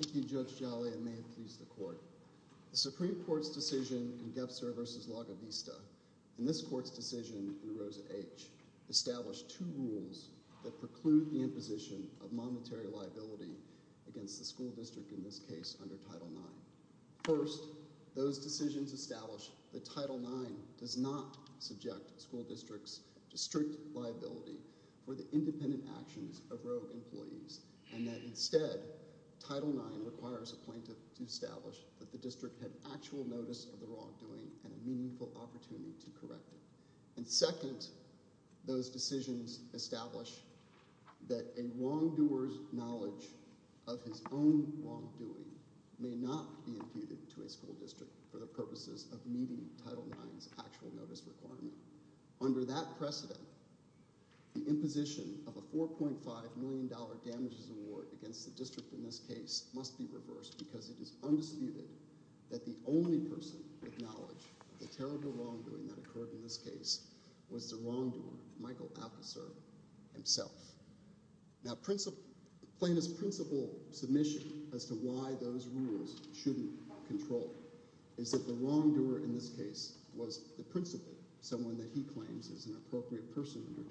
Thank you Judge Jolly, and may it please the court. The Supreme Court's decision in Gebser v. Laga Vista, and this court's decision in Rosa H., established two rules that preclude the imposition of monetary liability against the school district in this case under Title IX. First, those decisions established that Title IX does not subject school districts to strict liability for the requires a plaintiff to establish that the district had actual notice of the wrongdoing and a meaningful opportunity to correct it. And second, those decisions establish that a wrongdoer's knowledge of his own wrongdoing may not be imputed to a school district for the purposes of meeting Title IX's actual notice requirement. Under that precedent, the imposition of a 4.5 million dollar damages award against the district in this case must be reversed because it is undisputed that the only person with knowledge of the terrible wrongdoing that occurred in this case was the wrongdoer, Michael Alcoser himself. Now plaintiff's principal submission as to why those rules shouldn't be controlled is that the wrongdoer in this case was the principal, someone that he claims is an appropriate person under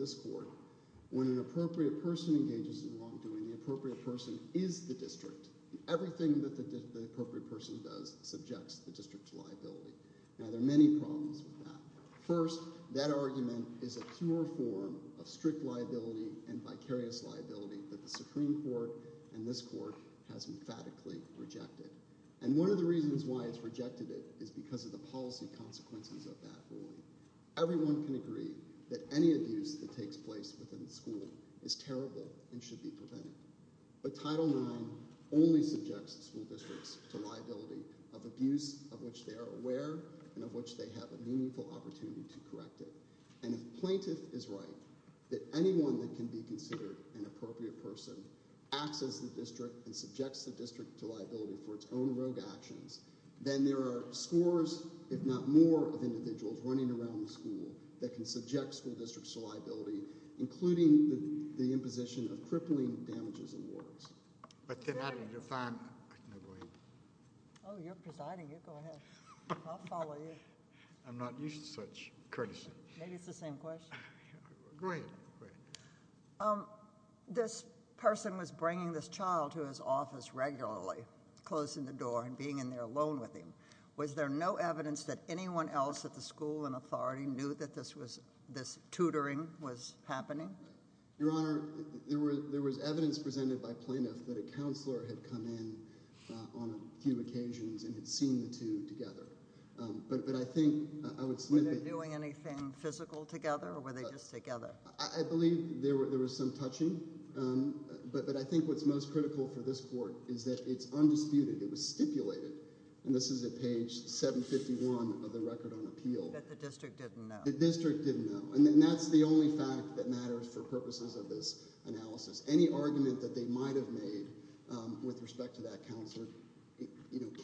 this court. When an appropriate person engages in wrongdoing, the appropriate person is the district. Everything that the appropriate person does subjects the district's liability. Now there are many problems with that. First, that argument is a pure form of strict liability and vicarious liability that the Supreme Court and this court has emphatically rejected. And one of the reasons why it's rejected it is because of the policy consequences of that ruling. Everyone can agree that any abuse that takes place within the school is terrible and should be prevented. But Title IX only subjects school districts to liability of abuse of which they are aware and of which they have a meaningful opportunity to correct it. And if plaintiff is right, that anyone that can be considered an appropriate person acts as the district and subjects the district to liability for its own rogue actions, then there are scores, if not more, of individuals running around the school that can be subject to the district's liability, including the imposition of crippling damages and warrants. Oh, you're presiding here. Go ahead. I'll follow you. I'm not used to such courtesy. Maybe it's the same question. Go ahead. This person was bringing this child to his office regularly, closing the door and being in there alone with him. Was there no evidence that anyone else at the school and authority knew that this tutoring was happening? Your Honor, there was evidence presented by plaintiffs that a counselor had come in on a few occasions and had seen the two together. Were they doing anything physical together or were they just together? I believe there was some touching, but I think what's most critical for this court is that it's undisputed. It was stipulated, and this is at page 751 of the record on appeal. That the district didn't know. The district didn't know. And that's the only fact that matters for purposes of this analysis. Any argument that they might have made with respect to that counselor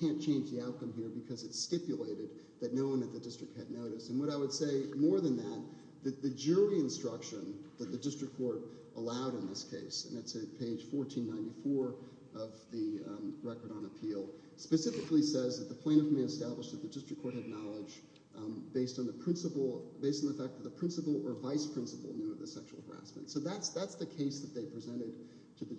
can't change the outcome here because it's stipulated that no one at the district had noticed. And what I would say more than that, the jury instruction that the district court allowed in this case, and it's at page 1494 of the record on appeal, specifically says that the plaintiff may establish that the district court had knowledge based on the fact that the principal or vice principal knew of the sexual harassment. So that's the case that they presented to the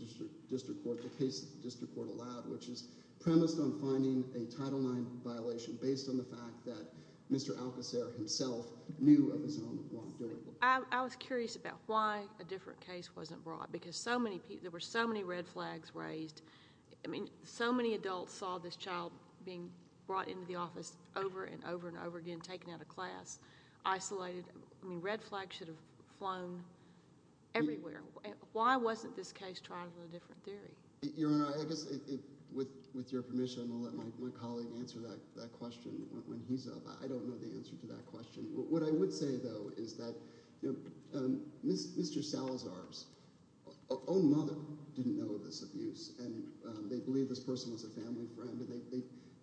district court, the case the district court allowed, which is premised on finding a Title IX violation based on the fact that Mr. Alcocer himself knew of his own wrongdoing. I was curious about why a different case wasn't brought. Because there were so many red flags raised. I mean, so many adults saw this child being brought into the office over and over and over again, taken out of class, isolated. I mean, red flags should have flown everywhere. Why wasn't this case tried with a different theory? Your Honor, I guess with your permission, I'll let my colleague answer that question when he's up. I don't know the answer to that question. What I would say, though, is that Mr. Salazar's own mother didn't know of this abuse, and they believed this person was a family friend.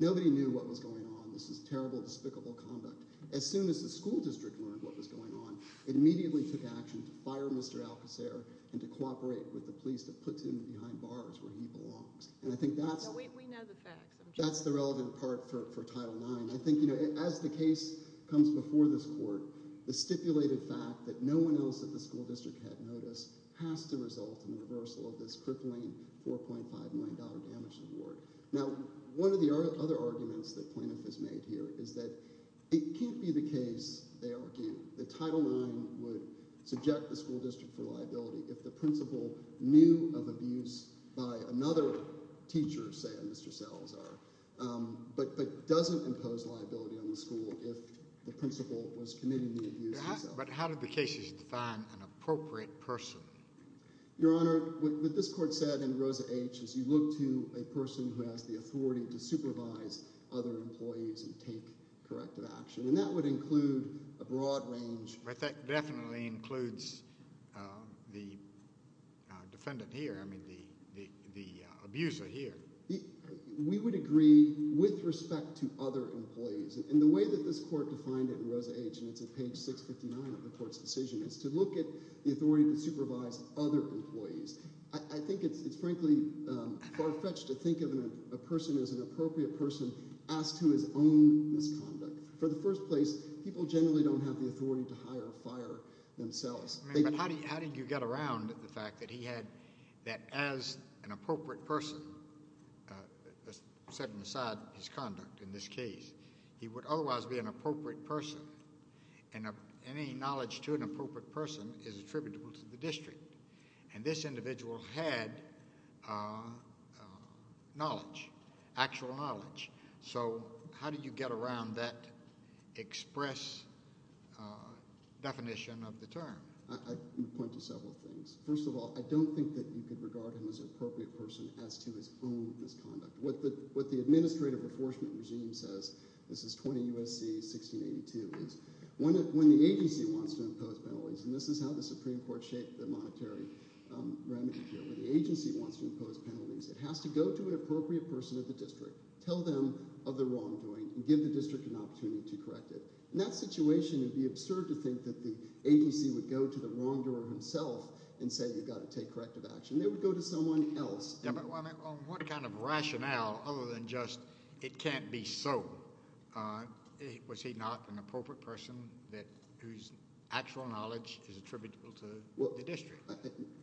Nobody knew what was going on. This was terrible, despicable conduct. As soon as the school district learned what was going on, it immediately took action to fire Mr. Alcocer and to cooperate with the police to put him behind bars where he belongs. And I think that's – We know the facts. That's the relevant part for Title IX. I think, you know, as the case comes before this court, the stipulated fact that no one else at the school district had noticed has to result in the reversal of this crippling $4.5 million damage award. Now, one of the other arguments that Plaintiff has made here is that it can't be the case they argue that Title IX would subject the school district for liability if the principal knew of abuse by another teacher, say a Mr. Salazar, but doesn't impose liability on the school if the principal was committing the abuse himself. But how do the cases define an appropriate person? Your Honor, what this court said in Rosa H. is you look to a person who has the authority to supervise other employees and take corrective action, and that would include a broad range – But that definitely includes the defendant here, I mean the abuser here. We would agree with respect to other employees, and the way that this court defined it in Rosa H., and it's at page 659 of the court's decision, is to look at the authority to supervise other employees. I think it's frankly far-fetched to think of a person as an appropriate person asked to his own misconduct. For the first place, people generally don't have the authority to hire or fire themselves. But how did you get around the fact that he had – that as an appropriate person, setting aside his conduct in this case, he would otherwise be an appropriate person, and any knowledge to an appropriate person is attributable to the district, and this individual had knowledge, actual knowledge. So how did you get around that express definition of the term? I would point to several things. First of all, I don't think that you could regard him as an appropriate person as to his own misconduct. What the administrative enforcement regime says – this is 20 U.S.C. 1682 – is when the agency wants to impose penalties, and this is how the Supreme Court shaped the monetary remedy here. When the agency wants to impose penalties, it has to go to an appropriate person at the district, tell them of the wrongdoing, and give the district an opportunity to correct it. In that situation, it would be absurd to think that the agency would go to the wrongdoer himself and say you've got to take corrective action. They would go to someone else. On what kind of rationale other than just it can't be so, was he not an appropriate person whose actual knowledge is attributable to the district?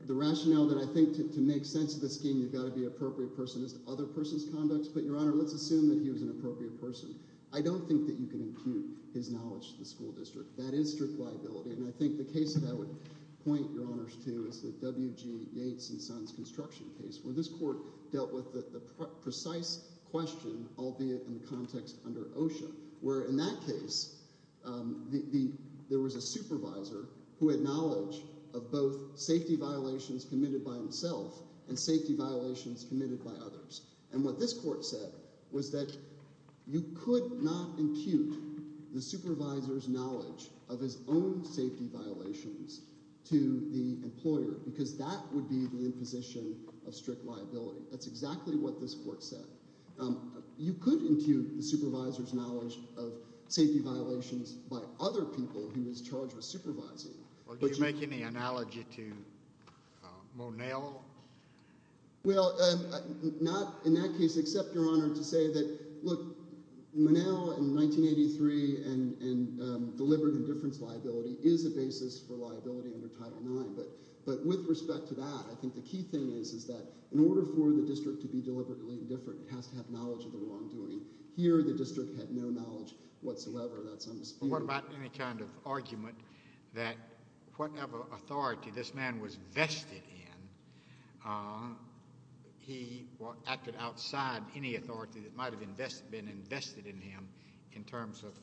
The rationale that I think to make sense of this scheme, you've got to be an appropriate person as to other persons' conducts, but, Your Honor, let's assume that he was an appropriate person. I don't think that you can impute his knowledge to the school district. That is strict liability, and I think the case that I would point Your Honors to is the W.G. Yates and Sons construction case, where this court dealt with the precise question, albeit in the context under OSHA, where in that case there was a supervisor who had knowledge of both safety violations committed by himself and safety violations committed by others. And what this court said was that you could not impute the supervisor's knowledge of his own safety violations to the employer because that would be the imposition of strict liability. That's exactly what this court said. You could impute the supervisor's knowledge of safety violations by other people he was charged with supervising. Well, do you make any analogy to Monell? Well, not in that case, except, Your Honor, to say that, look, Monell in 1983 and deliberate indifference liability is a basis for liability under Title IX. But with respect to that, I think the key thing is that in order for the district to be deliberately indifferent, it has to have knowledge of the wrongdoing. Here the district had no knowledge whatsoever. What about any kind of argument that whatever authority this man was vested in, he acted outside any authority that might have been invested in him in terms of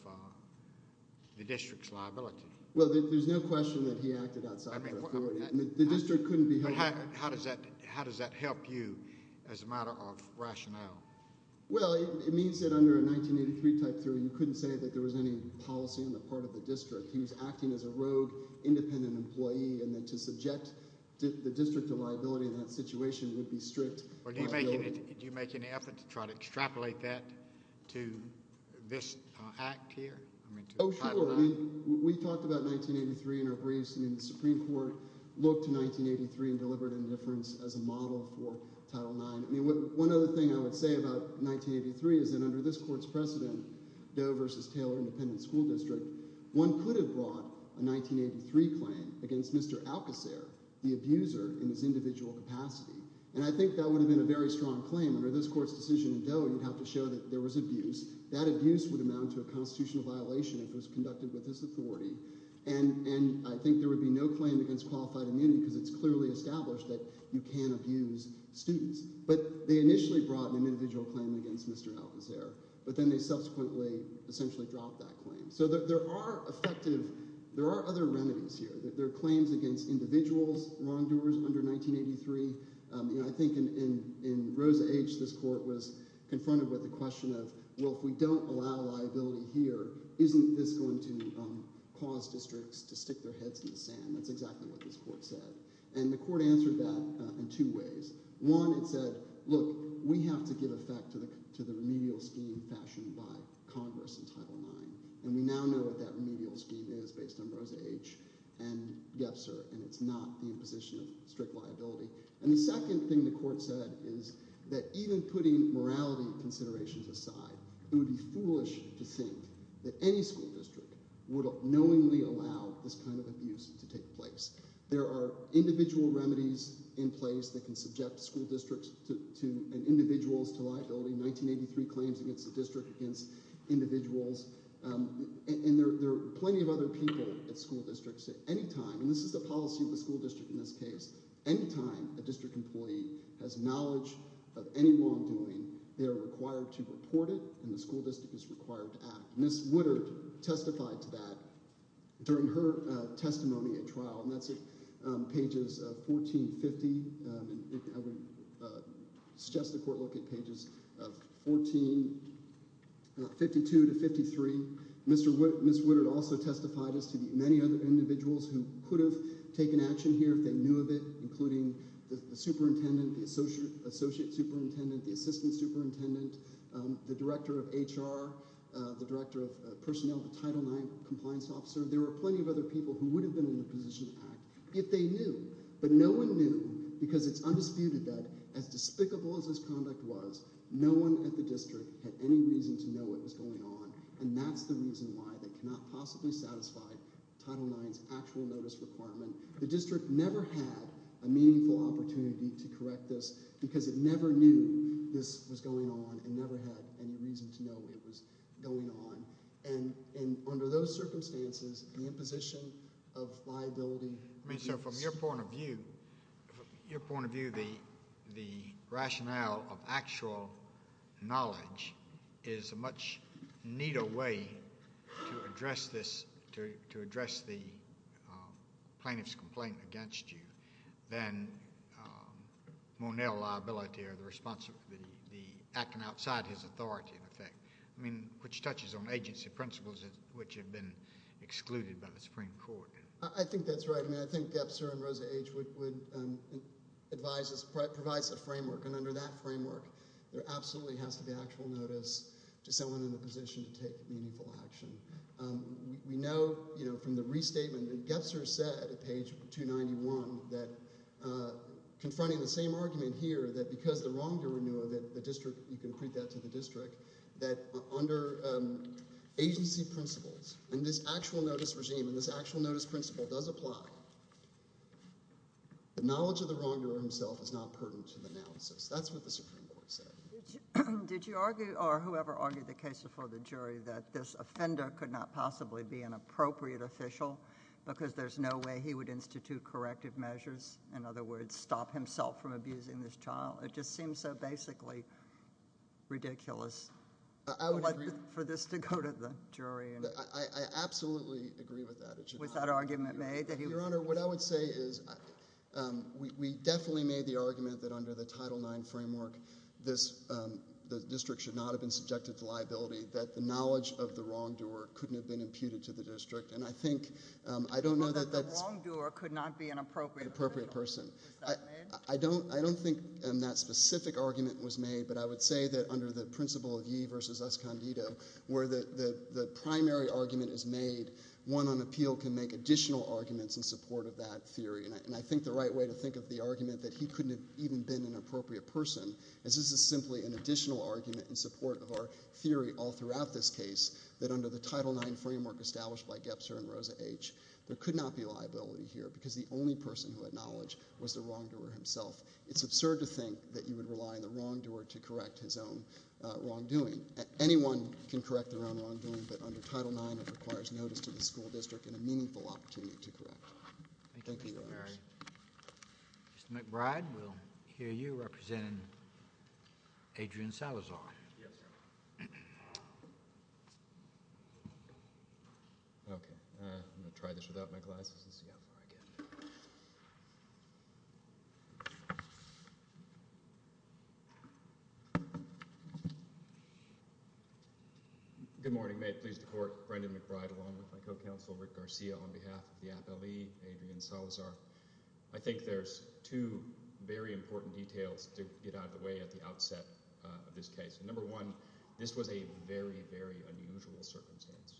the district's liability? Well, there's no question that he acted outside the authority. The district couldn't be held to that. How does that help you as a matter of rationale? Well, it means that under a 1983 Type III, you couldn't say that there was any policy on the part of the district. He was acting as a rogue, independent employee, and then to subject the district to liability in that situation would be strict liability. Do you make any effort to try to extrapolate that to this act here? Oh, sure. We talked about 1983 in our briefs, and the Supreme Court looked to 1983 and deliberate indifference as a model for Title IX. One other thing I would say about 1983 is that under this court's precedent, Doe v. Taylor Independent School District, one could have brought a 1983 claim against Mr. Alcocer, the abuser, in his individual capacity. And I think that would have been a very strong claim. Under this court's decision in Doe, you'd have to show that there was abuse. That abuse would amount to a constitutional violation if it was conducted with this authority. And I think there would be no claim against qualified immunity because it's clearly established that you can abuse students. But they initially brought an individual claim against Mr. Alcocer, but then they subsequently essentially dropped that claim. So there are effective – there are other remedies here. There are claims against individuals, wrongdoers under 1983. I think in Rosa H., this court was confronted with the question of, well, if we don't allow liability here, isn't this going to cause districts to stick their heads in the sand? That's exactly what this court said. And the court answered that in two ways. One, it said, look, we have to give effect to the remedial scheme fashioned by Congress in Title IX. And we now know what that remedial scheme is based on Rosa H. and Gebser, and it's not the imposition of strict liability. And the second thing the court said is that even putting morality considerations aside, it would be foolish to think that any school district would knowingly allow this kind of abuse to take place. There are individual remedies in place that can subject school districts to – and individuals to liability. 1983 claims against the district against individuals. And there are plenty of other people at school districts at any time – and this is the policy of the school district in this case. Any time a district employee has knowledge of any wrongdoing, they are required to report it, and the school district is required to act. Ms. Woodard testified to that during her testimony at trial, and that's at pages 1450. I would suggest the court look at pages 14 – 52 to 53. Ms. Woodard also testified as to the many other individuals who could have taken action here if they knew of it, including the superintendent, the associate superintendent, the assistant superintendent, the director of HR, the director of personnel, the Title IX compliance officer. There were plenty of other people who would have been in a position to act if they knew. But no one knew because it's undisputed that as despicable as this conduct was, no one at the district had any reason to know what was going on. And that's the reason why they cannot possibly satisfy Title IX's actual notice requirement. The district never had a meaningful opportunity to correct this because it never knew this was going on and never had any reason to know it was going on. And under those circumstances, the imposition of liability... I mean, so from your point of view, your point of view, the rationale of actual knowledge is a much neater way to address this, to address the plaintiff's complaint against you, than Monell liability or the responsibility... the acting outside his authority, in effect. I mean, which touches on agency principles which have been excluded by the Supreme Court. I think that's right. I mean, I think Gebser and Rosa H. would advise us... provides a framework. And under that framework, there absolutely has to be actual notice to someone in a position to take meaningful action. We know, you know, from the restatement that Gebser said at page 291, that confronting the same argument here, that because the wrongdoer knew of it, the district... you can put that to the district, that under agency principles, and this actual notice regime, and this actual notice principle does apply, the knowledge of the wrongdoer himself is not pertinent to the analysis. That's what the Supreme Court said. Did you argue, or whoever argued the case before the jury, that this offender could not possibly be an appropriate official, because there's no way he would institute corrective measures, in other words, stop himself from abusing this child? It just seems so basically ridiculous for this to go to the jury. I absolutely agree with that. Was that argument made? Your Honor, what I would say is, we definitely made the argument that under the Title IX framework, the district should not have been subjected to liability, that the knowledge of the wrongdoer couldn't have been imputed to the district. And I think, I don't know that that's... So that the wrongdoer could not be an appropriate official? An appropriate person. Was that made? I don't think that specific argument was made, but I would say that under the principle of ye versus us condito, where the primary argument is made, one on appeal can make additional arguments in support of that theory. And I think the right way to think of the argument that he couldn't have even been an appropriate person, is this is simply an additional argument in support of our theory all throughout this case, that under the Title IX framework established by Gebser and Rosa H., there could not be liability here, because the only person who had knowledge was the wrongdoer himself. It's absurd to think that you would rely on the wrongdoer to correct his own wrongdoing. Anyone can correct their own wrongdoing, but under Title IX, it requires notice to the school district and a meaningful opportunity to correct. Thank you, Your Honors. Thank you, Mr. Perry. Mr. McBride, we'll hear you representing Adrian Salazar. Yes, sir. Okay. I'm going to try this without my glasses and see how far I get. Good morning. May it please the Court, Brendan McBride along with my co-counsel, Rick Garcia, on behalf of the Appellee, Adrian Salazar. I think there's two very important details to get out of the way at the outset of this case. Number one, this was a very, very unusual circumstance.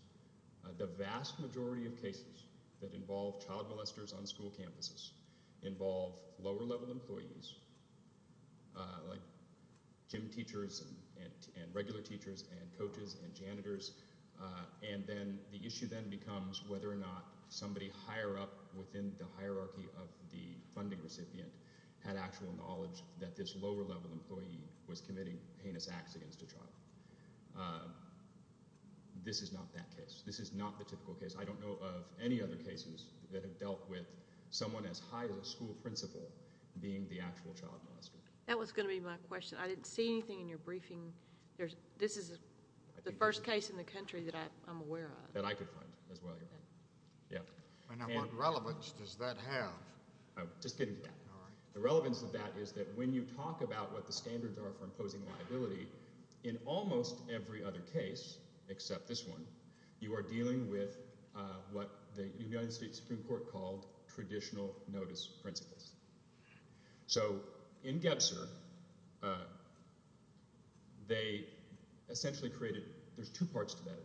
The vast majority of cases that involve child molesters on school campuses involve lower-level employees, like gym teachers and regular teachers and coaches and janitors, and then the issue then becomes whether or not somebody higher up within the hierarchy of the funding recipient had actual knowledge that this lower-level employee was committing heinous acts against a child. This is not that case. This is not the typical case. I don't know of any other cases that have dealt with someone as high as a school principal being the actual child molester. That was going to be my question. I didn't see anything in your briefing. This is the first case in the country that I'm aware of. That I could find as well, Your Honor. And what relevance does that have? Just kidding. The relevance of that is that when you talk about what the standards are for imposing liability, in almost every other case except this one, you are dealing with what the United States Supreme Court called traditional notice principles. So in Gebser, they essentially created – there's two parts to that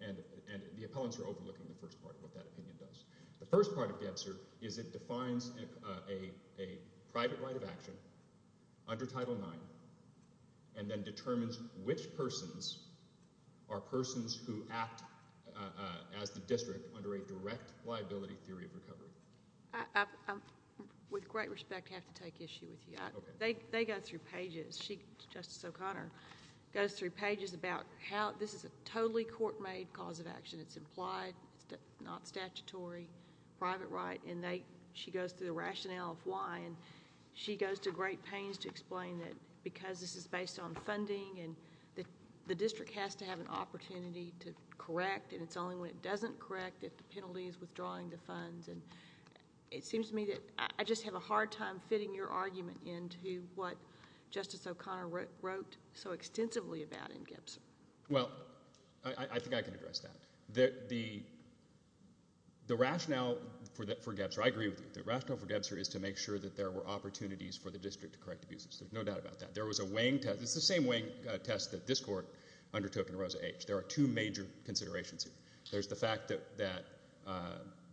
opinion, and the appellants are overlooking the first part of what that opinion does. The first part of Gebser is it defines a private right of action under Title IX and then determines which persons are persons who act as the district under a direct liability theory of recovery. I, with great respect, have to take issue with you. They go through pages. Justice O'Connor goes through pages about how this is a totally court-made cause of action. It's implied. It's not statutory. Private right. And she goes through the rationale of why. And she goes to great pains to explain that because this is based on funding and the district has to have an opportunity to correct, and it's only when it doesn't correct that the penalty is withdrawing the funds. And it seems to me that I just have a hard time fitting your argument into what Justice O'Connor wrote so extensively about in Gebser. Well, I think I can address that. The rationale for Gebser – I agree with you. The rationale for Gebser is to make sure that there were opportunities for the district to correct abuses. There's no doubt about that. There was a weighing test. It's the same weighing test that this court undertook in Rosa H. There are two major considerations here. There's the fact that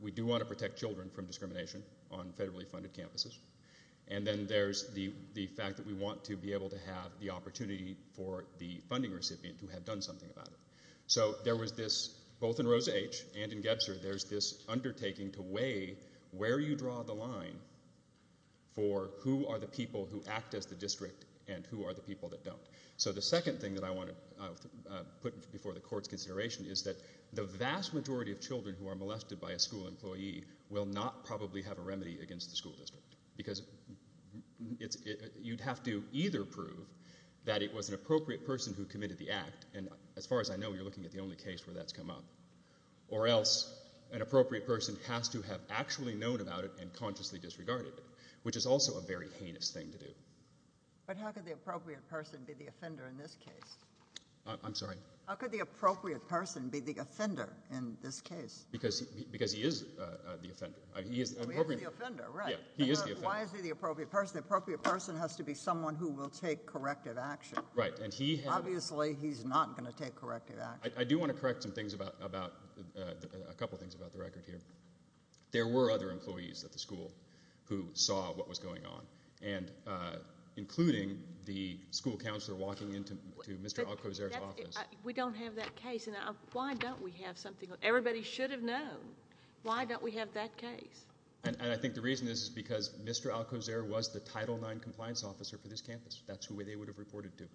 we do want to protect children from discrimination on federally funded campuses, and then there's the fact that we want to be able to have the opportunity for the funding recipient to have done something about it. So there was this, both in Rosa H. and in Gebser, there's this undertaking to weigh where you draw the line for who are the people who act as the district and who are the people that don't. So the second thing that I want to put before the court's consideration is that the vast majority of children who are molested by a school employee will not probably have a remedy against the school district because you'd have to either prove that it was an appropriate person who committed the act, and as far as I know, you're looking at the only case where that's come up, or else an appropriate person has to have actually known about it and consciously disregarded it, which is also a very heinous thing to do. But how could the appropriate person be the offender in this case? I'm sorry? How could the appropriate person be the offender in this case? Because he is the offender. He is the offender, right. He is the offender. Why is he the appropriate person? The appropriate person has to be someone who will take corrective action. Right, and he has... Obviously, he's not going to take corrective action. I do want to correct a couple of things about the record here. There were other employees at the school who saw what was going on, including the school counselor walking into Mr. Alcocer's office. We don't have that case, and why don't we have something? Everybody should have known. Why don't we have that case? And I think the reason is because Mr. Alcocer was the Title IX compliance officer for this campus. That's who they would have reported to.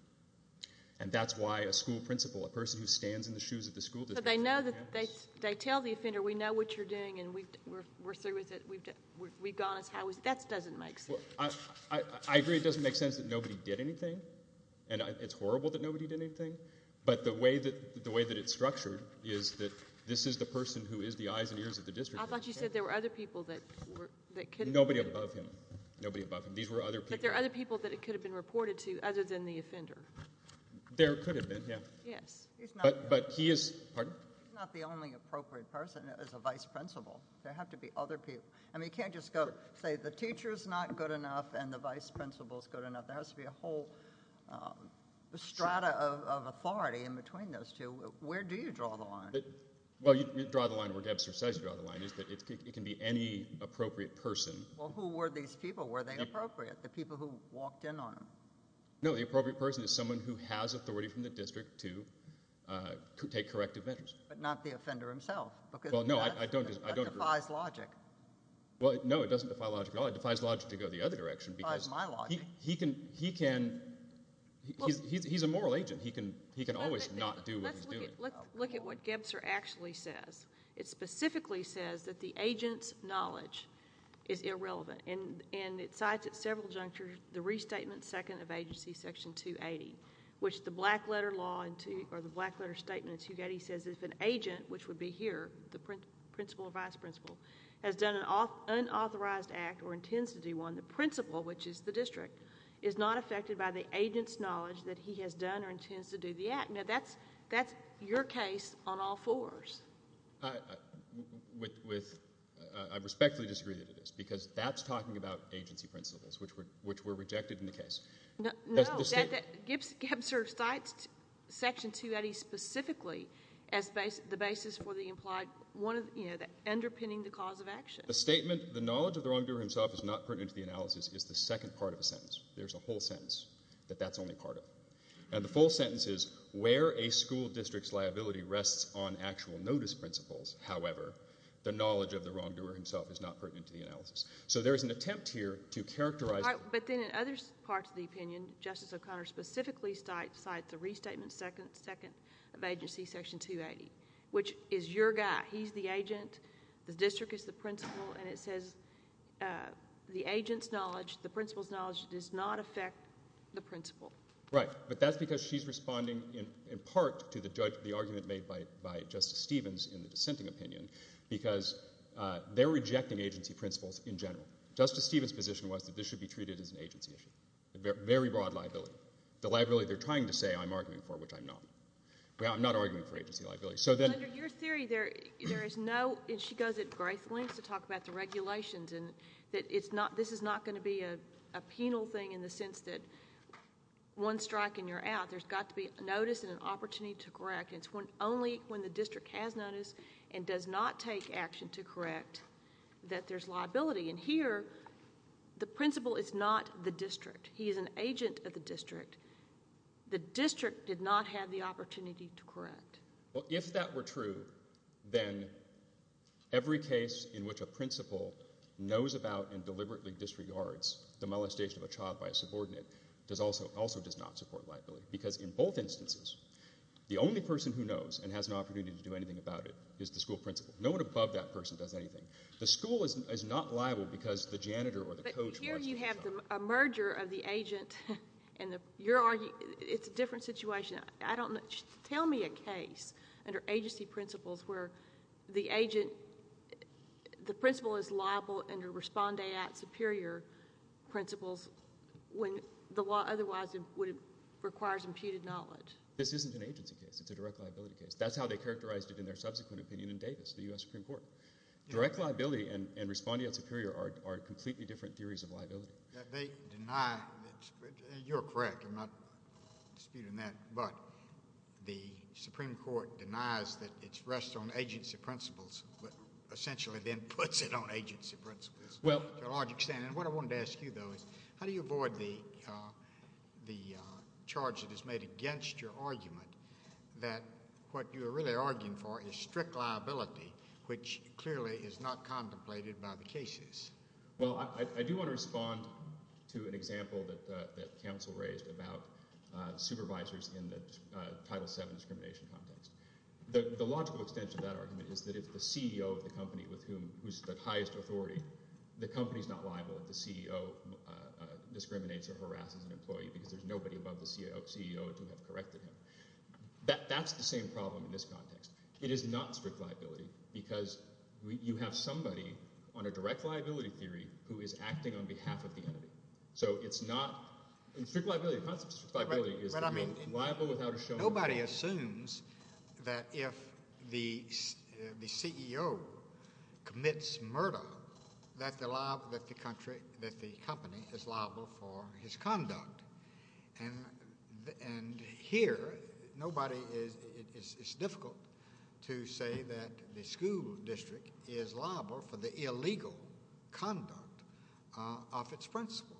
And that's why a school principal, a person who stands in the shoes of the school district... So they know that they tell the offender, we know what you're doing and we're through with it, we've gone as high as... That doesn't make sense. I agree it doesn't make sense that nobody did anything, and it's horrible that nobody did anything, but the way that it's structured is that this is the person who is the eyes and ears of the district. I thought you said there were other people that could have been... Nobody above him. Nobody above him. But there are other people that it could have been reported to other than the offender. There could have been, yeah. Yes. But he is... He's not the only appropriate person as a vice principal. There have to be other people. I mean, you can't just say the teacher's not good enough and the vice principal's good enough. There has to be a whole strata of authority in between those two. Where do you draw the line? Well, you draw the line where Debser says you draw the line. It can be any appropriate person. Well, who were these people? Were they appropriate, the people who walked in on him? No, the appropriate person is someone who has authority from the district to take corrective measures. But not the offender himself. Well, no, I don't agree. That defies logic. Well, no, it doesn't defy logic at all. It defies logic to go the other direction. It defies my logic. He's a moral agent. He can always not do what he's doing. Let's look at what Debser actually says. It specifically says that the agent's knowledge is irrelevant, and it cites at several junctures the restatement second of agency section 280, which the black letter law or the black letter statement 280 says if an agent, which would be here, the principal or vice principal, has done an unauthorized act or intends to do one, the principal, which is the district, is not affected by the agent's knowledge that he has done or intends to do the act. Now, that's your case on all fours. I respectfully disagree that it is because that's talking about agency principles, which were rejected in the case. No, Debser cites section 280 specifically as the basis for the implied, you know, underpinning the cause of action. The statement, the knowledge of the wrongdoer himself is not pertinent to the analysis, is the second part of the sentence. There's a whole sentence that that's only part of. And the full sentence is where a school district's liability rests on actual notice principles, however, the knowledge of the wrongdoer himself is not pertinent to the analysis. So there is an attempt here to characterize. But then in other parts of the opinion, Justice O'Connor specifically cites the restatement second of agency section 280, which is your guy. He's the agent. The district is the principal, and it says the agent's knowledge, the principal's knowledge, does not affect the principal. Right. But that's because she's responding in part to the argument made by Justice Stevens in the dissenting opinion because they're rejecting agency principles in general. Justice Stevens' position was that this should be treated as an agency issue, a very broad liability, the liability they're trying to say I'm arguing for, which I'm not. I'm not arguing for agency liability. Under your theory, there is no – and she goes at great lengths to talk about the regulations and that this is not going to be a penal thing in the sense that one strike and you're out. There's got to be notice and an opportunity to correct. It's only when the district has notice and does not take action to correct that there's liability. And here the principal is not the district. He is an agent of the district. The district did not have the opportunity to correct. Well, if that were true, then every case in which a principal knows about and deliberately disregards the molestation of a child by a subordinate also does not support liability because in both instances, the only person who knows and has an opportunity to do anything about it is the school principal. No one above that person does anything. The school is not liable because the janitor or the coach wants it done. But here you have a merger of the agent and the – you're arguing – it's a different situation. Tell me a case under agency principles where the agent – the principal is liable under respondeat superior principles when the law otherwise requires imputed knowledge. This isn't an agency case. It's a direct liability case. That's how they characterized it in their subsequent opinion in Davis, the U.S. Supreme Court. They deny – you're correct. I'm not disputing that. But the Supreme Court denies that it rests on agency principles but essentially then puts it on agency principles to a large extent. And what I wanted to ask you, though, is how do you avoid the charge that is made against your argument that what you're really arguing for is strict liability, which clearly is not contemplated by the cases? Well, I do want to respond to an example that counsel raised about supervisors in the Title VII discrimination context. The logical extension of that argument is that if the CEO of the company with whom – who's the highest authority, the company is not liable if the CEO discriminates or harasses an employee because there's nobody above the CEO to have corrected him. That's the same problem in this context. It is not strict liability because you have somebody on a direct liability theory who is acting on behalf of the entity. So it's not – and strict liability, the concept of strict liability is liable without a – Nobody assumes that if the CEO commits murder that the company is liable for his conduct. And here, nobody is – it's difficult to say that the school district is liable for the illegal conduct of its principal.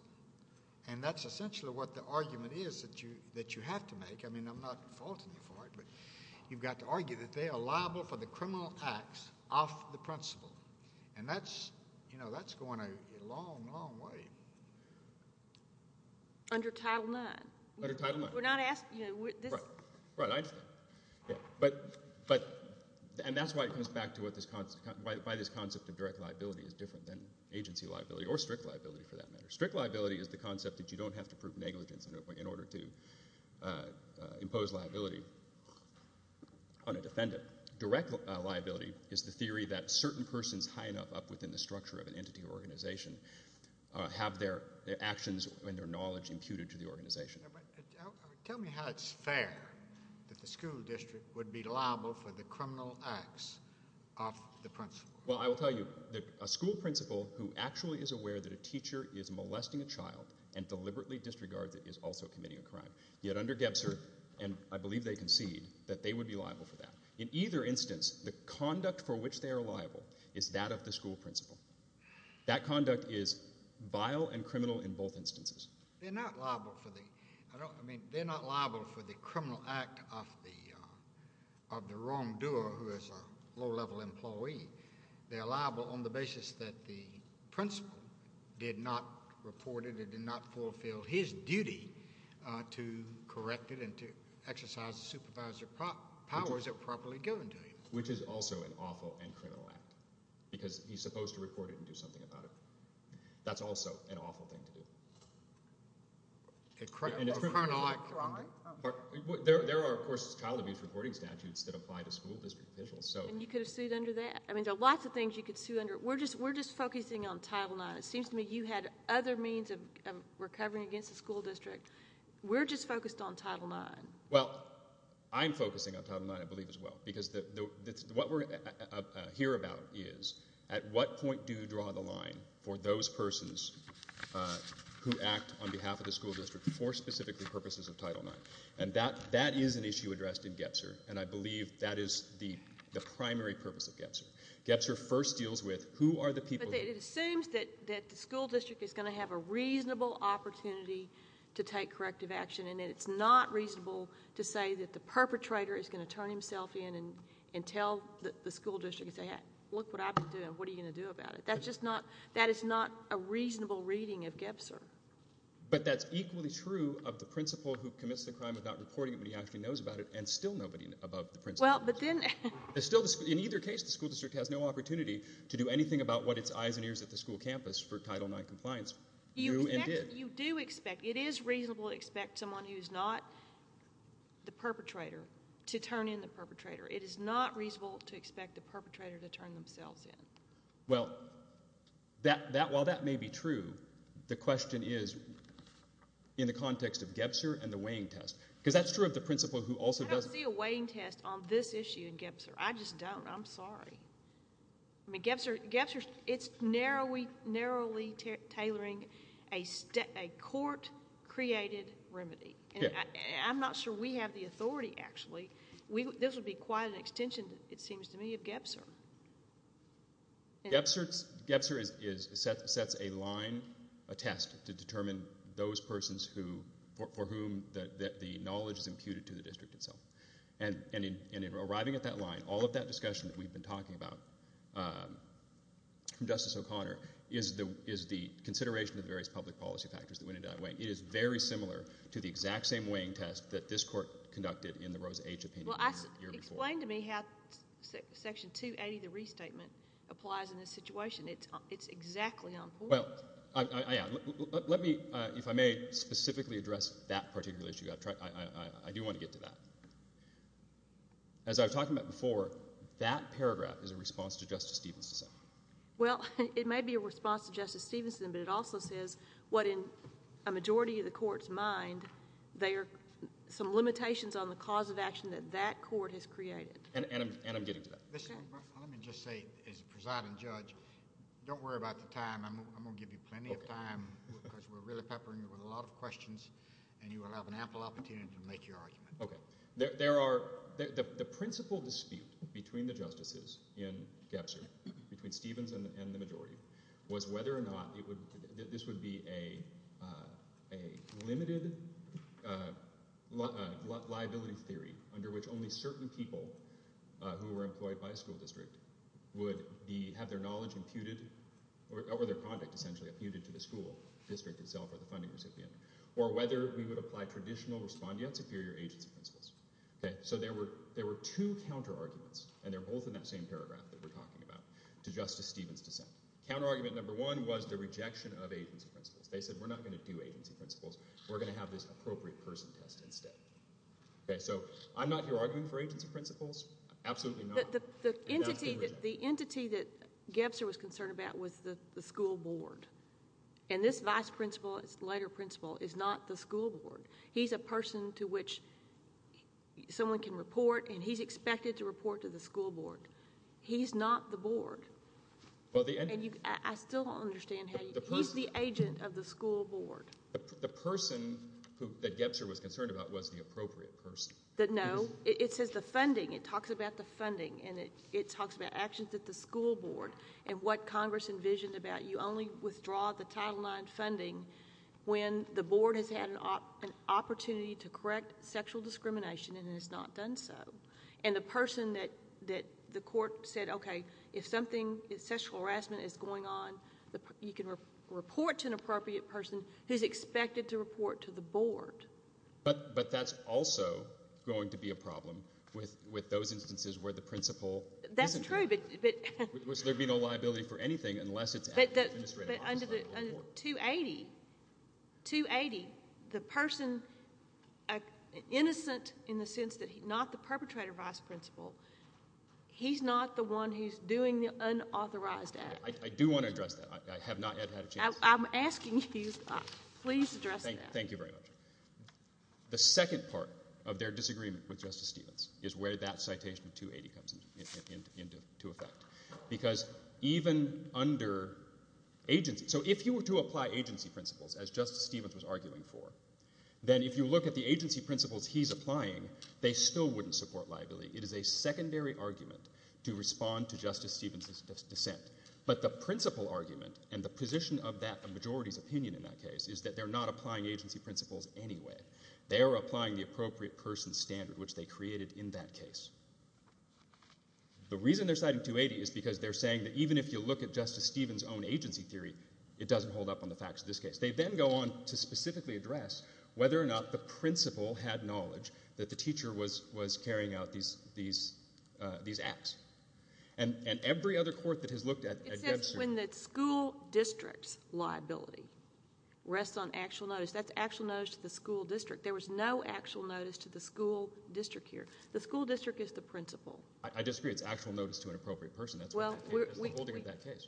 And that's essentially what the argument is that you have to make. I mean, I'm not faulting you for it, but you've got to argue that they are liable for the criminal acts of the principal. And that's going a long, long way. Under Title IX. Under Title IX. We're not asking you. Right, I understand. But – and that's why it comes back to what this – why this concept of direct liability is different than agency liability or strict liability for that matter. Strict liability is the concept that you don't have to prove negligence in order to impose liability on a defendant. Direct liability is the theory that certain persons high enough up within the structure of an entity or organization have their actions and their knowledge imputed to the organization. Tell me how it's fair that the school district would be liable for the criminal acts of the principal. Well, I will tell you, a school principal who actually is aware that a teacher is molesting a child and deliberately disregards it is also committing a crime. Yet under GEBSER, and I believe they concede, that they would be liable for that. In either instance, the conduct for which they are liable is that of the school principal. That conduct is vile and criminal in both instances. They're not liable for the – I mean, they're not liable for the criminal act of the wrongdoer who is a low-level employee. They're liable on the basis that the principal did not report it and did not fulfill his duty to correct it and to exercise the supervisor's powers to properly go and do it. Which is also an awful and criminal act because he's supposed to report it and do something about it. That's also an awful thing to do. A criminal act? There are, of course, child abuse reporting statutes that apply to school district officials. And you could have sued under that. I mean, there are lots of things you could sue under. We're just focusing on Title IX. It seems to me you had other means of recovering against the school district. We're just focused on Title IX. Well, I'm focusing on Title IX, I believe, as well, because what we're here about is at what point do you draw the line for those persons who act on behalf of the school district for specifically purposes of Title IX. And that is an issue addressed in GEPSR, and I believe that is the primary purpose of GEPSR. GEPSR first deals with who are the people who – But it assumes that the school district is going to have a reasonable opportunity to take corrective action in it. It's not reasonable to say that the perpetrator is going to turn himself in and tell the school district, look what I've been doing. What are you going to do about it? That is not a reasonable reading of GEPSR. But that's equally true of the principal who commits the crime without reporting it when he actually knows about it, and still nobody above the principal. In either case, the school district has no opportunity to do anything about what its eyes and ears at the school campus for Title IX compliance knew and did. You do expect – it is reasonable to expect someone who is not the perpetrator to turn in the perpetrator. It is not reasonable to expect the perpetrator to turn themselves in. Well, while that may be true, the question is in the context of GEPSR and the weighing test, because that's true of the principal who also does – I don't see a weighing test on this issue in GEPSR. I just don't. I'm sorry. I mean, GEPSR, it's narrowly tailoring a court-created remedy. I'm not sure we have the authority, actually. This would be quite an extension, it seems to me, of GEPSR. GEPSR sets a line, a test, to determine those persons who – for whom the knowledge is imputed to the district itself. And in arriving at that line, all of that discussion that we've been talking about from Justice O'Connor is the consideration of the various public policy factors that went into that weighing. It is very similar to the exact same weighing test that this court conducted in the Rose H. opinion the year before. Well, explain to me how Section 280, the restatement, applies in this situation. It's exactly on point. Well, let me, if I may, specifically address that particular issue. I do want to get to that. As I was talking about before, that paragraph is a response to Justice Stevenson. Well, it may be a response to Justice Stevenson, but it also says what in a majority of the court's mind there are some limitations on the cause of action that that court has created. And I'm getting to that. Let me just say, as presiding judge, don't worry about the time. I'm going to give you plenty of time because we're really peppering you with a lot of questions, and you will have an ample opportunity to make your argument. Okay. There are—the principal dispute between the justices in Gebser, between Stevens and the majority, was whether or not this would be a limited liability theory under which only certain people who were employed by a school district would have their knowledge imputed or their conduct essentially imputed to the school district itself or the funding recipient or whether we would apply traditional respondeat superior agency principles. Okay. So there were two counterarguments, and they're both in that same paragraph that we're talking about, to Justice Stevens' dissent. Counterargument number one was the rejection of agency principles. They said we're not going to do agency principles. We're going to have this appropriate person test instead. Okay. So I'm not here arguing for agency principles. Absolutely not. The entity that Gebser was concerned about was the school board. And this vice principal, this later principal, is not the school board. He's a person to which someone can report, and he's expected to report to the school board. He's not the board. I still don't understand how you—he's the agent of the school board. The person that Gebser was concerned about was the appropriate person. No. It says the funding. It talks about the funding, and it talks about actions at the school board and what Congress envisioned about you only withdraw the Title IX funding when the board has had an opportunity to correct sexual discrimination and has not done so. And the person that the court said, okay, if something, if sexual harassment is going on, you can report to an appropriate person who's expected to report to the board. But that's also going to be a problem with those instances where the principal isn't there. That's true, but— So there would be no liability for anything unless it's— But under 280, 280, the person innocent in the sense that he's not the perpetrator vice principal, he's not the one who's doing the unauthorized act. I do want to address that. I have not yet had a chance. I'm asking you. Please address that. Thank you very much. The second part of their disagreement with Justice Stevens is where that citation of 280 comes into effect. Because even under agency— So if you were to apply agency principles, as Justice Stevens was arguing for, then if you look at the agency principles he's applying, they still wouldn't support liability. It is a secondary argument to respond to Justice Stevens' dissent. But the principal argument and the position of that majority's opinion in that case is that they're not applying agency principles anyway. They are applying the appropriate person standard, which they created in that case. The reason they're citing 280 is because they're saying that even if you look at Justice Stevens' own agency theory, it doesn't hold up on the facts of this case. They then go on to specifically address whether or not the principal had knowledge that the teacher was carrying out these acts. And every other court that has looked at— This is when the school district's liability rests on actual notice. That's actual notice to the school district. There was no actual notice to the school district here. The school district is the principal. I disagree. It's actual notice to an appropriate person. That's the holding of that case.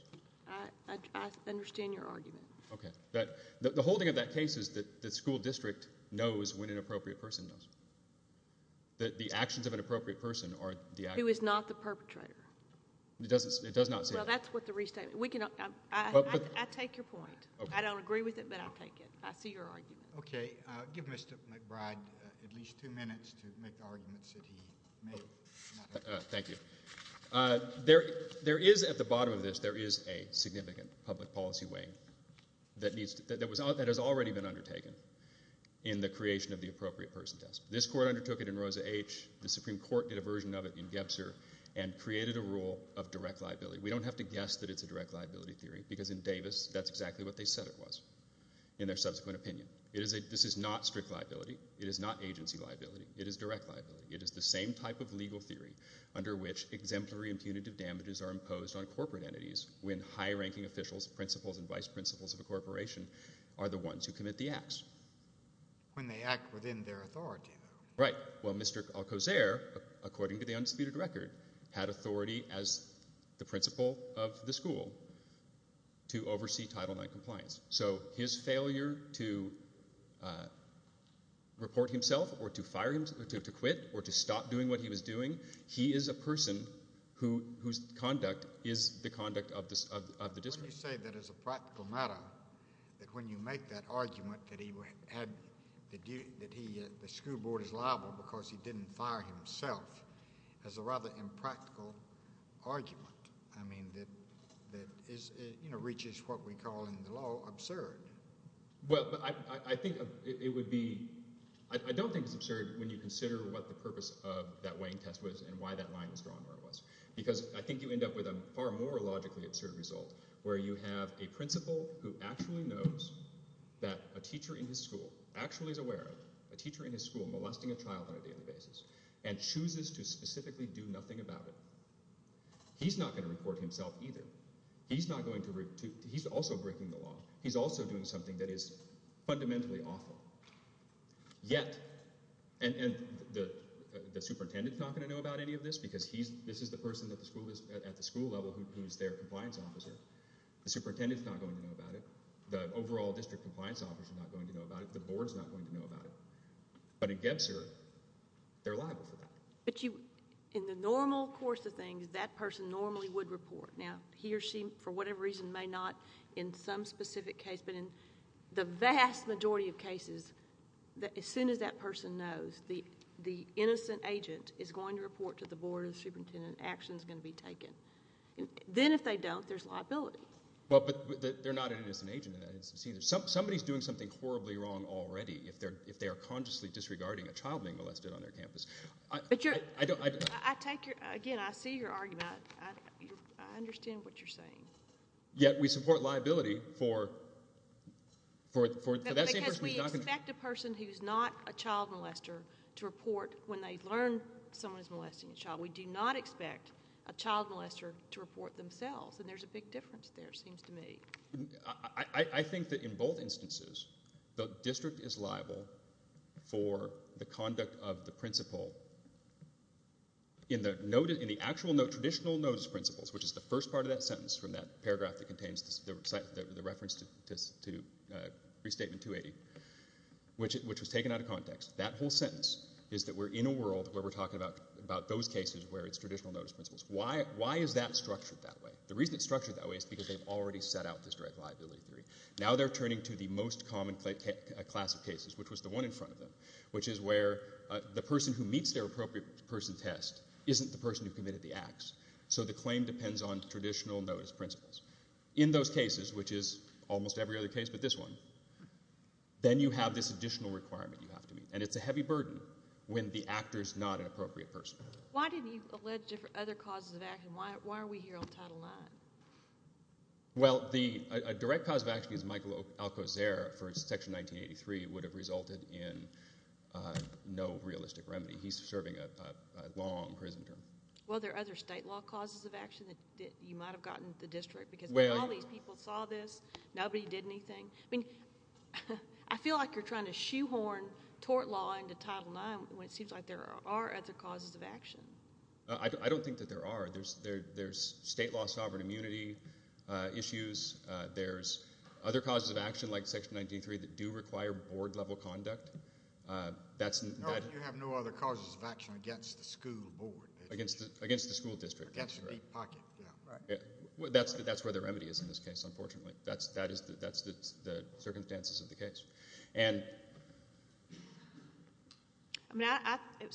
I understand your argument. Okay. The holding of that case is that the school district knows when an appropriate person does. That the actions of an appropriate person are the actual— Who is not the perpetrator. It does not say that. Well, that's what the restatement— I take your point. I don't agree with it, but I'll take it. I see your argument. Okay. Give Mr. McBride at least two minutes to make the arguments that he made. Thank you. There is, at the bottom of this, there is a significant public policy weigh-in that has already been undertaken in the creation of the appropriate person test. This court undertook it in Rosa H. The Supreme Court did a version of it in Gebzer and created a rule of direct liability. We don't have to guess that it's a direct liability theory because in Davis that's exactly what they said it was in their subsequent opinion. This is not strict liability. It is not agency liability. It is direct liability. It is the same type of legal theory under which exemplary and punitive damages are imposed on corporate entities when high-ranking officials, principals, and vice-principals of a corporation are the ones who commit the acts. When they act within their authority, though. Right. Well, Mr. Alcazar, according to the undisputed record, had authority as the principal of the school to oversee Title IX compliance. So his failure to report himself or to fire him, to quit, or to stop doing what he was doing, he is a person whose conduct is the conduct of the district. But you say that as a practical matter, that when you make that argument that the school board is liable because he didn't fire himself, that's a rather impractical argument that reaches what we call in the law absurd. Well, I think it would be—I don't think it's absurd when you consider what the purpose of that weighing test was and why that line was drawn where it was because I think you end up with a far more logically absurd result where you have a principal who actually knows that a teacher in his school actually is aware of it, a teacher in his school molesting a child on a daily basis, and chooses to specifically do nothing about it. He's not going to report himself either. He's not going to—he's also breaking the law. He's also doing something that is fundamentally awful. Yet—and the superintendent is not going to know about any of this because this is the person at the school level who is their compliance officer. The superintendent is not going to know about it. The overall district compliance officer is not going to know about it. The board is not going to know about it. But in Gebser, they're liable for that. But you—in the normal course of things, that person normally would report. Now he or she, for whatever reason, may not in some specific case, but in the vast majority of cases, as soon as that person knows, the innocent agent is going to report to the board of the superintendent. Action is going to be taken. Then if they don't, there's liability. Well, but they're not an innocent agent in that instance either. Somebody is doing something horribly wrong already if they are consciously disregarding a child being molested on their campus. But you're— I don't— I take your—again, I see your argument. I understand what you're saying. Yet we support liability for that same person who's not going to— Because we expect a person who's not a child molester to report when they learn someone is molesting a child. We do not expect a child molester to report themselves. And there's a big difference there, it seems to me. I think that in both instances, the district is liable for the conduct of the principal. In the actual, traditional notice principles, which is the first part of that sentence from that paragraph that contains the reference to Restatement 280, which was taken out of context, that whole sentence is that we're in a world where we're talking about those cases where it's traditional notice principles. Why is that structured that way? The reason it's structured that way is because they've already set out this direct liability theory. Now they're turning to the most common class of cases, which was the one in front of them, which is where the person who meets their appropriate person test isn't the person who committed the acts. So the claim depends on traditional notice principles. In those cases, which is almost every other case but this one, then you have this additional requirement you have to meet. And it's a heavy burden when the actor's not an appropriate person. Why didn't you allege other causes of action? Why are we here on Title IX? Well, a direct cause of action is Michael Alcozer for Section 1983 would have resulted in no realistic remedy. He's serving a long prison term. Well, are there other state law causes of action that you might have gotten the district? Because all these people saw this. Nobody did anything. I mean, I feel like you're trying to shoehorn tort law into Title IX when it seems like there are other causes of action. I don't think that there are. There's state law sovereign immunity issues. There's other causes of action like Section 1983 that do require board-level conduct. You have no other causes of action against the school board. Against the school district. Against the deep pocket. That's where the remedy is in this case, unfortunately. That's the circumstances of the case. It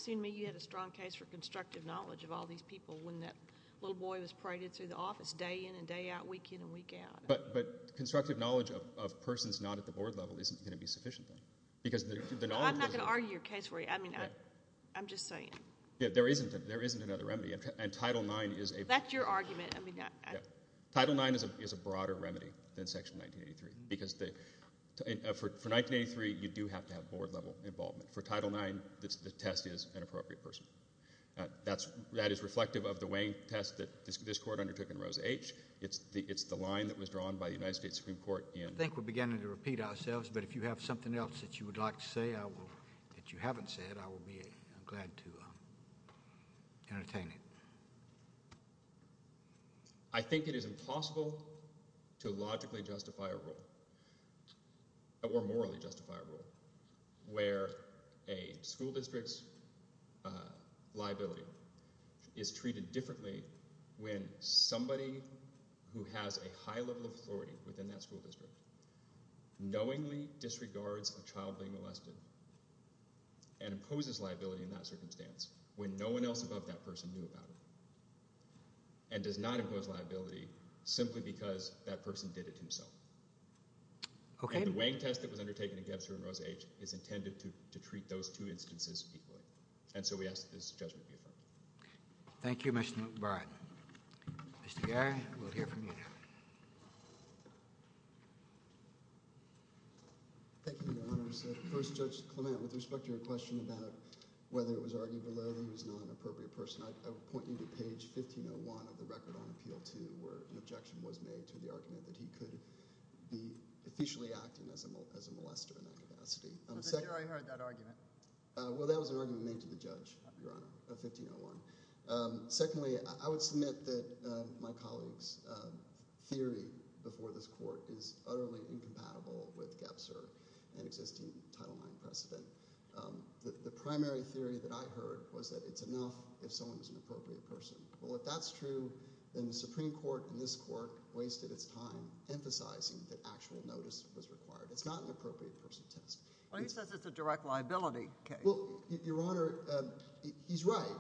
seemed to me you had a strong case for constructive knowledge of all these people when that little boy was paraded through the office day in and day out, week in and week out. But constructive knowledge of persons not at the board level isn't going to be sufficient I'm not going to argue your case for you. I'm just saying. There isn't another remedy, and Title IX is a That's your argument. Title IX is a broader remedy than Section 1983. Because for 1983, you do have to have board-level involvement. For Title IX, the test is an appropriate person. That is reflective of the weighing test that this court undertook in Rose H. It's the line that was drawn by the United States Supreme Court in I think we're beginning to repeat ourselves, but if you have something else that you would like to say that you haven't said, I will be glad to entertain it. I think it is impossible to logically justify a rule. Or morally justify a rule. Where a school district's liability is treated differently when somebody who has a high level of authority within that school district knowingly disregards a child being molested and imposes liability in that circumstance when no one else above that person knew about it and does not impose liability simply because that person did it himself. And the weighing test that was undertaken in Gebser and Rose H. is intended to treat those two instances equally. And so we ask that this judgment be affirmed. Thank you, Mr. McBride. Mr. Gary, we'll hear from you now. Thank you, Your Honors. First, Judge Clement, with respect to your question about whether it was argued below that he was not an appropriate person, I would point you to page 1501 of the record on Appeal 2 where an objection was made to the argument that he could be officially acting as a molester in that capacity. But then you already heard that argument. Well, that was an argument made to the judge, Your Honor, of 1501. Secondly, I would submit that my colleague's theory before this court is utterly incompatible with Gebser and existing Title IX precedent. The primary theory that I heard was that it's enough if someone is an appropriate person. Well, if that's true, then the Supreme Court and this court wasted its time emphasizing that actual notice was required. It's not an appropriate person test. Well, he says it's a direct liability case. Well, Your Honor, he's right.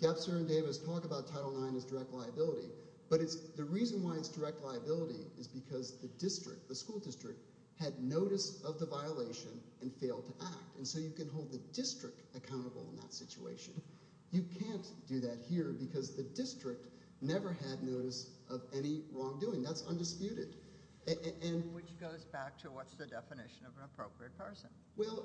Gebser and Davis talk about Title IX as direct liability, but the reason why it's direct liability is because the district, the school district, had notice of the violation and failed to act. And so you can hold the district accountable in that situation. You can't do that here because the district never had notice of any wrongdoing. That's undisputed. Which goes back to what's the definition of an appropriate person? Well,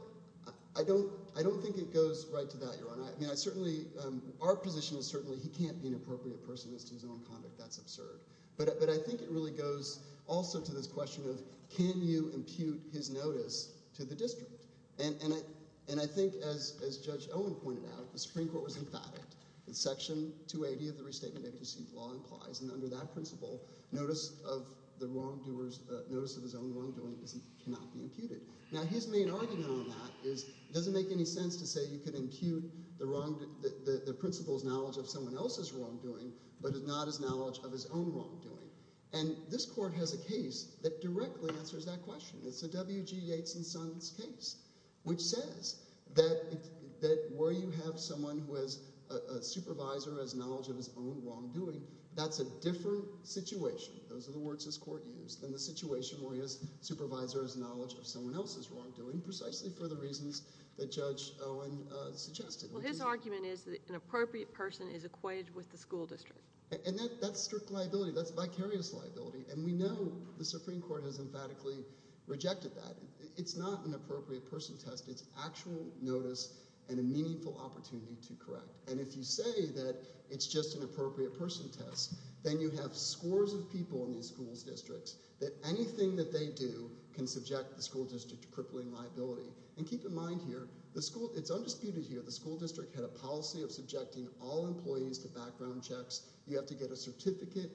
I don't think it goes right to that, Your Honor. Our position is certainly he can't be an appropriate person as to his own conduct. That's absurd. But I think it really goes also to this question of can you impute his notice to the district? And I think, as Judge Owen pointed out, the Supreme Court was emphatic that Section 280 of the Restatement of Deceived Law implies, and under that principle, notice of the wrongdoer's notice of his own wrongdoing cannot be imputed. Now, his main argument on that is it doesn't make any sense to say you can impute the principal's knowledge of someone else's wrongdoing but not his knowledge of his own wrongdoing. And this court has a case that directly answers that question. It's a W.G. Yates and Sons case which says that where you have someone who is a supervisor as knowledge of his own wrongdoing, that's a different situation. Those are the words this court used. And the situation where he is supervisor as knowledge of someone else's wrongdoing precisely for the reasons that Judge Owen suggested. Well, his argument is that an appropriate person is equated with the school district. And that's strict liability. That's vicarious liability. And we know the Supreme Court has emphatically rejected that. It's not an appropriate person test. It's actual notice and a meaningful opportunity to correct. And if you say that it's just an appropriate person test, then you have scores of people in these school districts that anything that they do can subject the school district to crippling liability. And keep in mind here, it's undisputed here, the school district had a policy of subjecting all employees to background checks. You have to get a certificate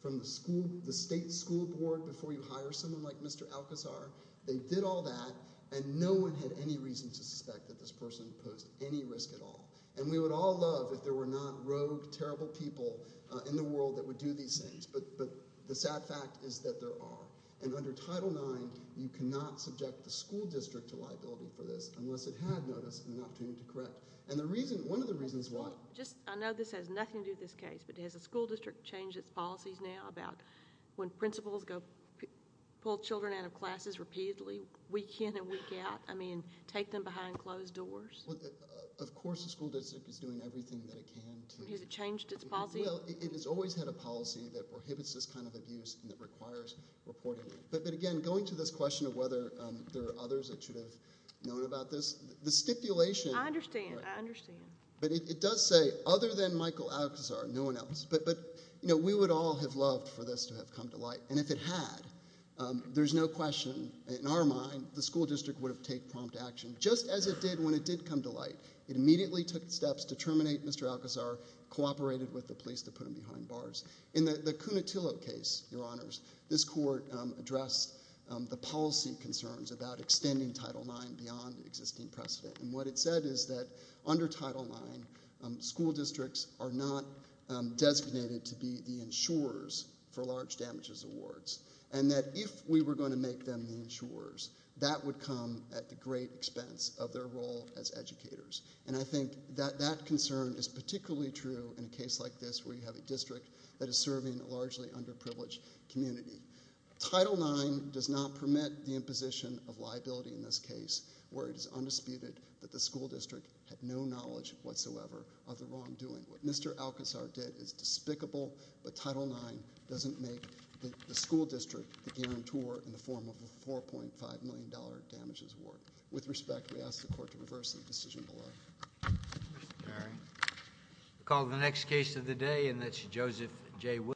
from the state school board before you hire someone like Mr. Alcazar. They did all that, and no one had any reason to suspect that this person posed any risk at all. And we would all love if there were not rogue, terrible people in the world that would do these things. But the sad fact is that there are. And under Title IX, you cannot subject the school district to liability for this unless it had notice and an opportunity to correct. And one of the reasons why— I know this has nothing to do with this case, but has the school district changed its policies now about when principals go pull children out of classes repeatedly, week in and week out? I mean, take them behind closed doors? Well, of course the school district is doing everything that it can to— Has it changed its policy? Well, it has always had a policy that prohibits this kind of abuse and that requires reporting. But again, going to this question of whether there are others that should have known about this, the stipulation— I understand. I understand. But it does say, other than Michael Alcazar, no one else. But we would all have loved for this to have come to light. And if it had, there's no question, in our mind, the school district would have taken prompt action, just as it did when it did come to light. It immediately took steps to terminate Mr. Alcazar, cooperated with the police to put him behind bars. In the Cunetillo case, Your Honors, this court addressed the policy concerns about extending Title IX beyond existing precedent. And what it said is that under Title IX, school districts are not designated to be the insurers for large damages awards, and that if we were going to make them the insurers, that would come at the great expense of their role as educators. And I think that that concern is particularly true in a case like this where you have a district that is serving a largely underprivileged community. Title IX does not permit the imposition of liability in this case where it is undisputed that the school district had no knowledge whatsoever of the wrongdoing. What Mr. Alcazar did is despicable, but Title IX doesn't make the school district the guarantor in the form of a $4.5 million damages award. With respect, we ask the court to reverse the decision below. Mr. Perry. We'll call the next case of the day, and that's Joseph J. Williams.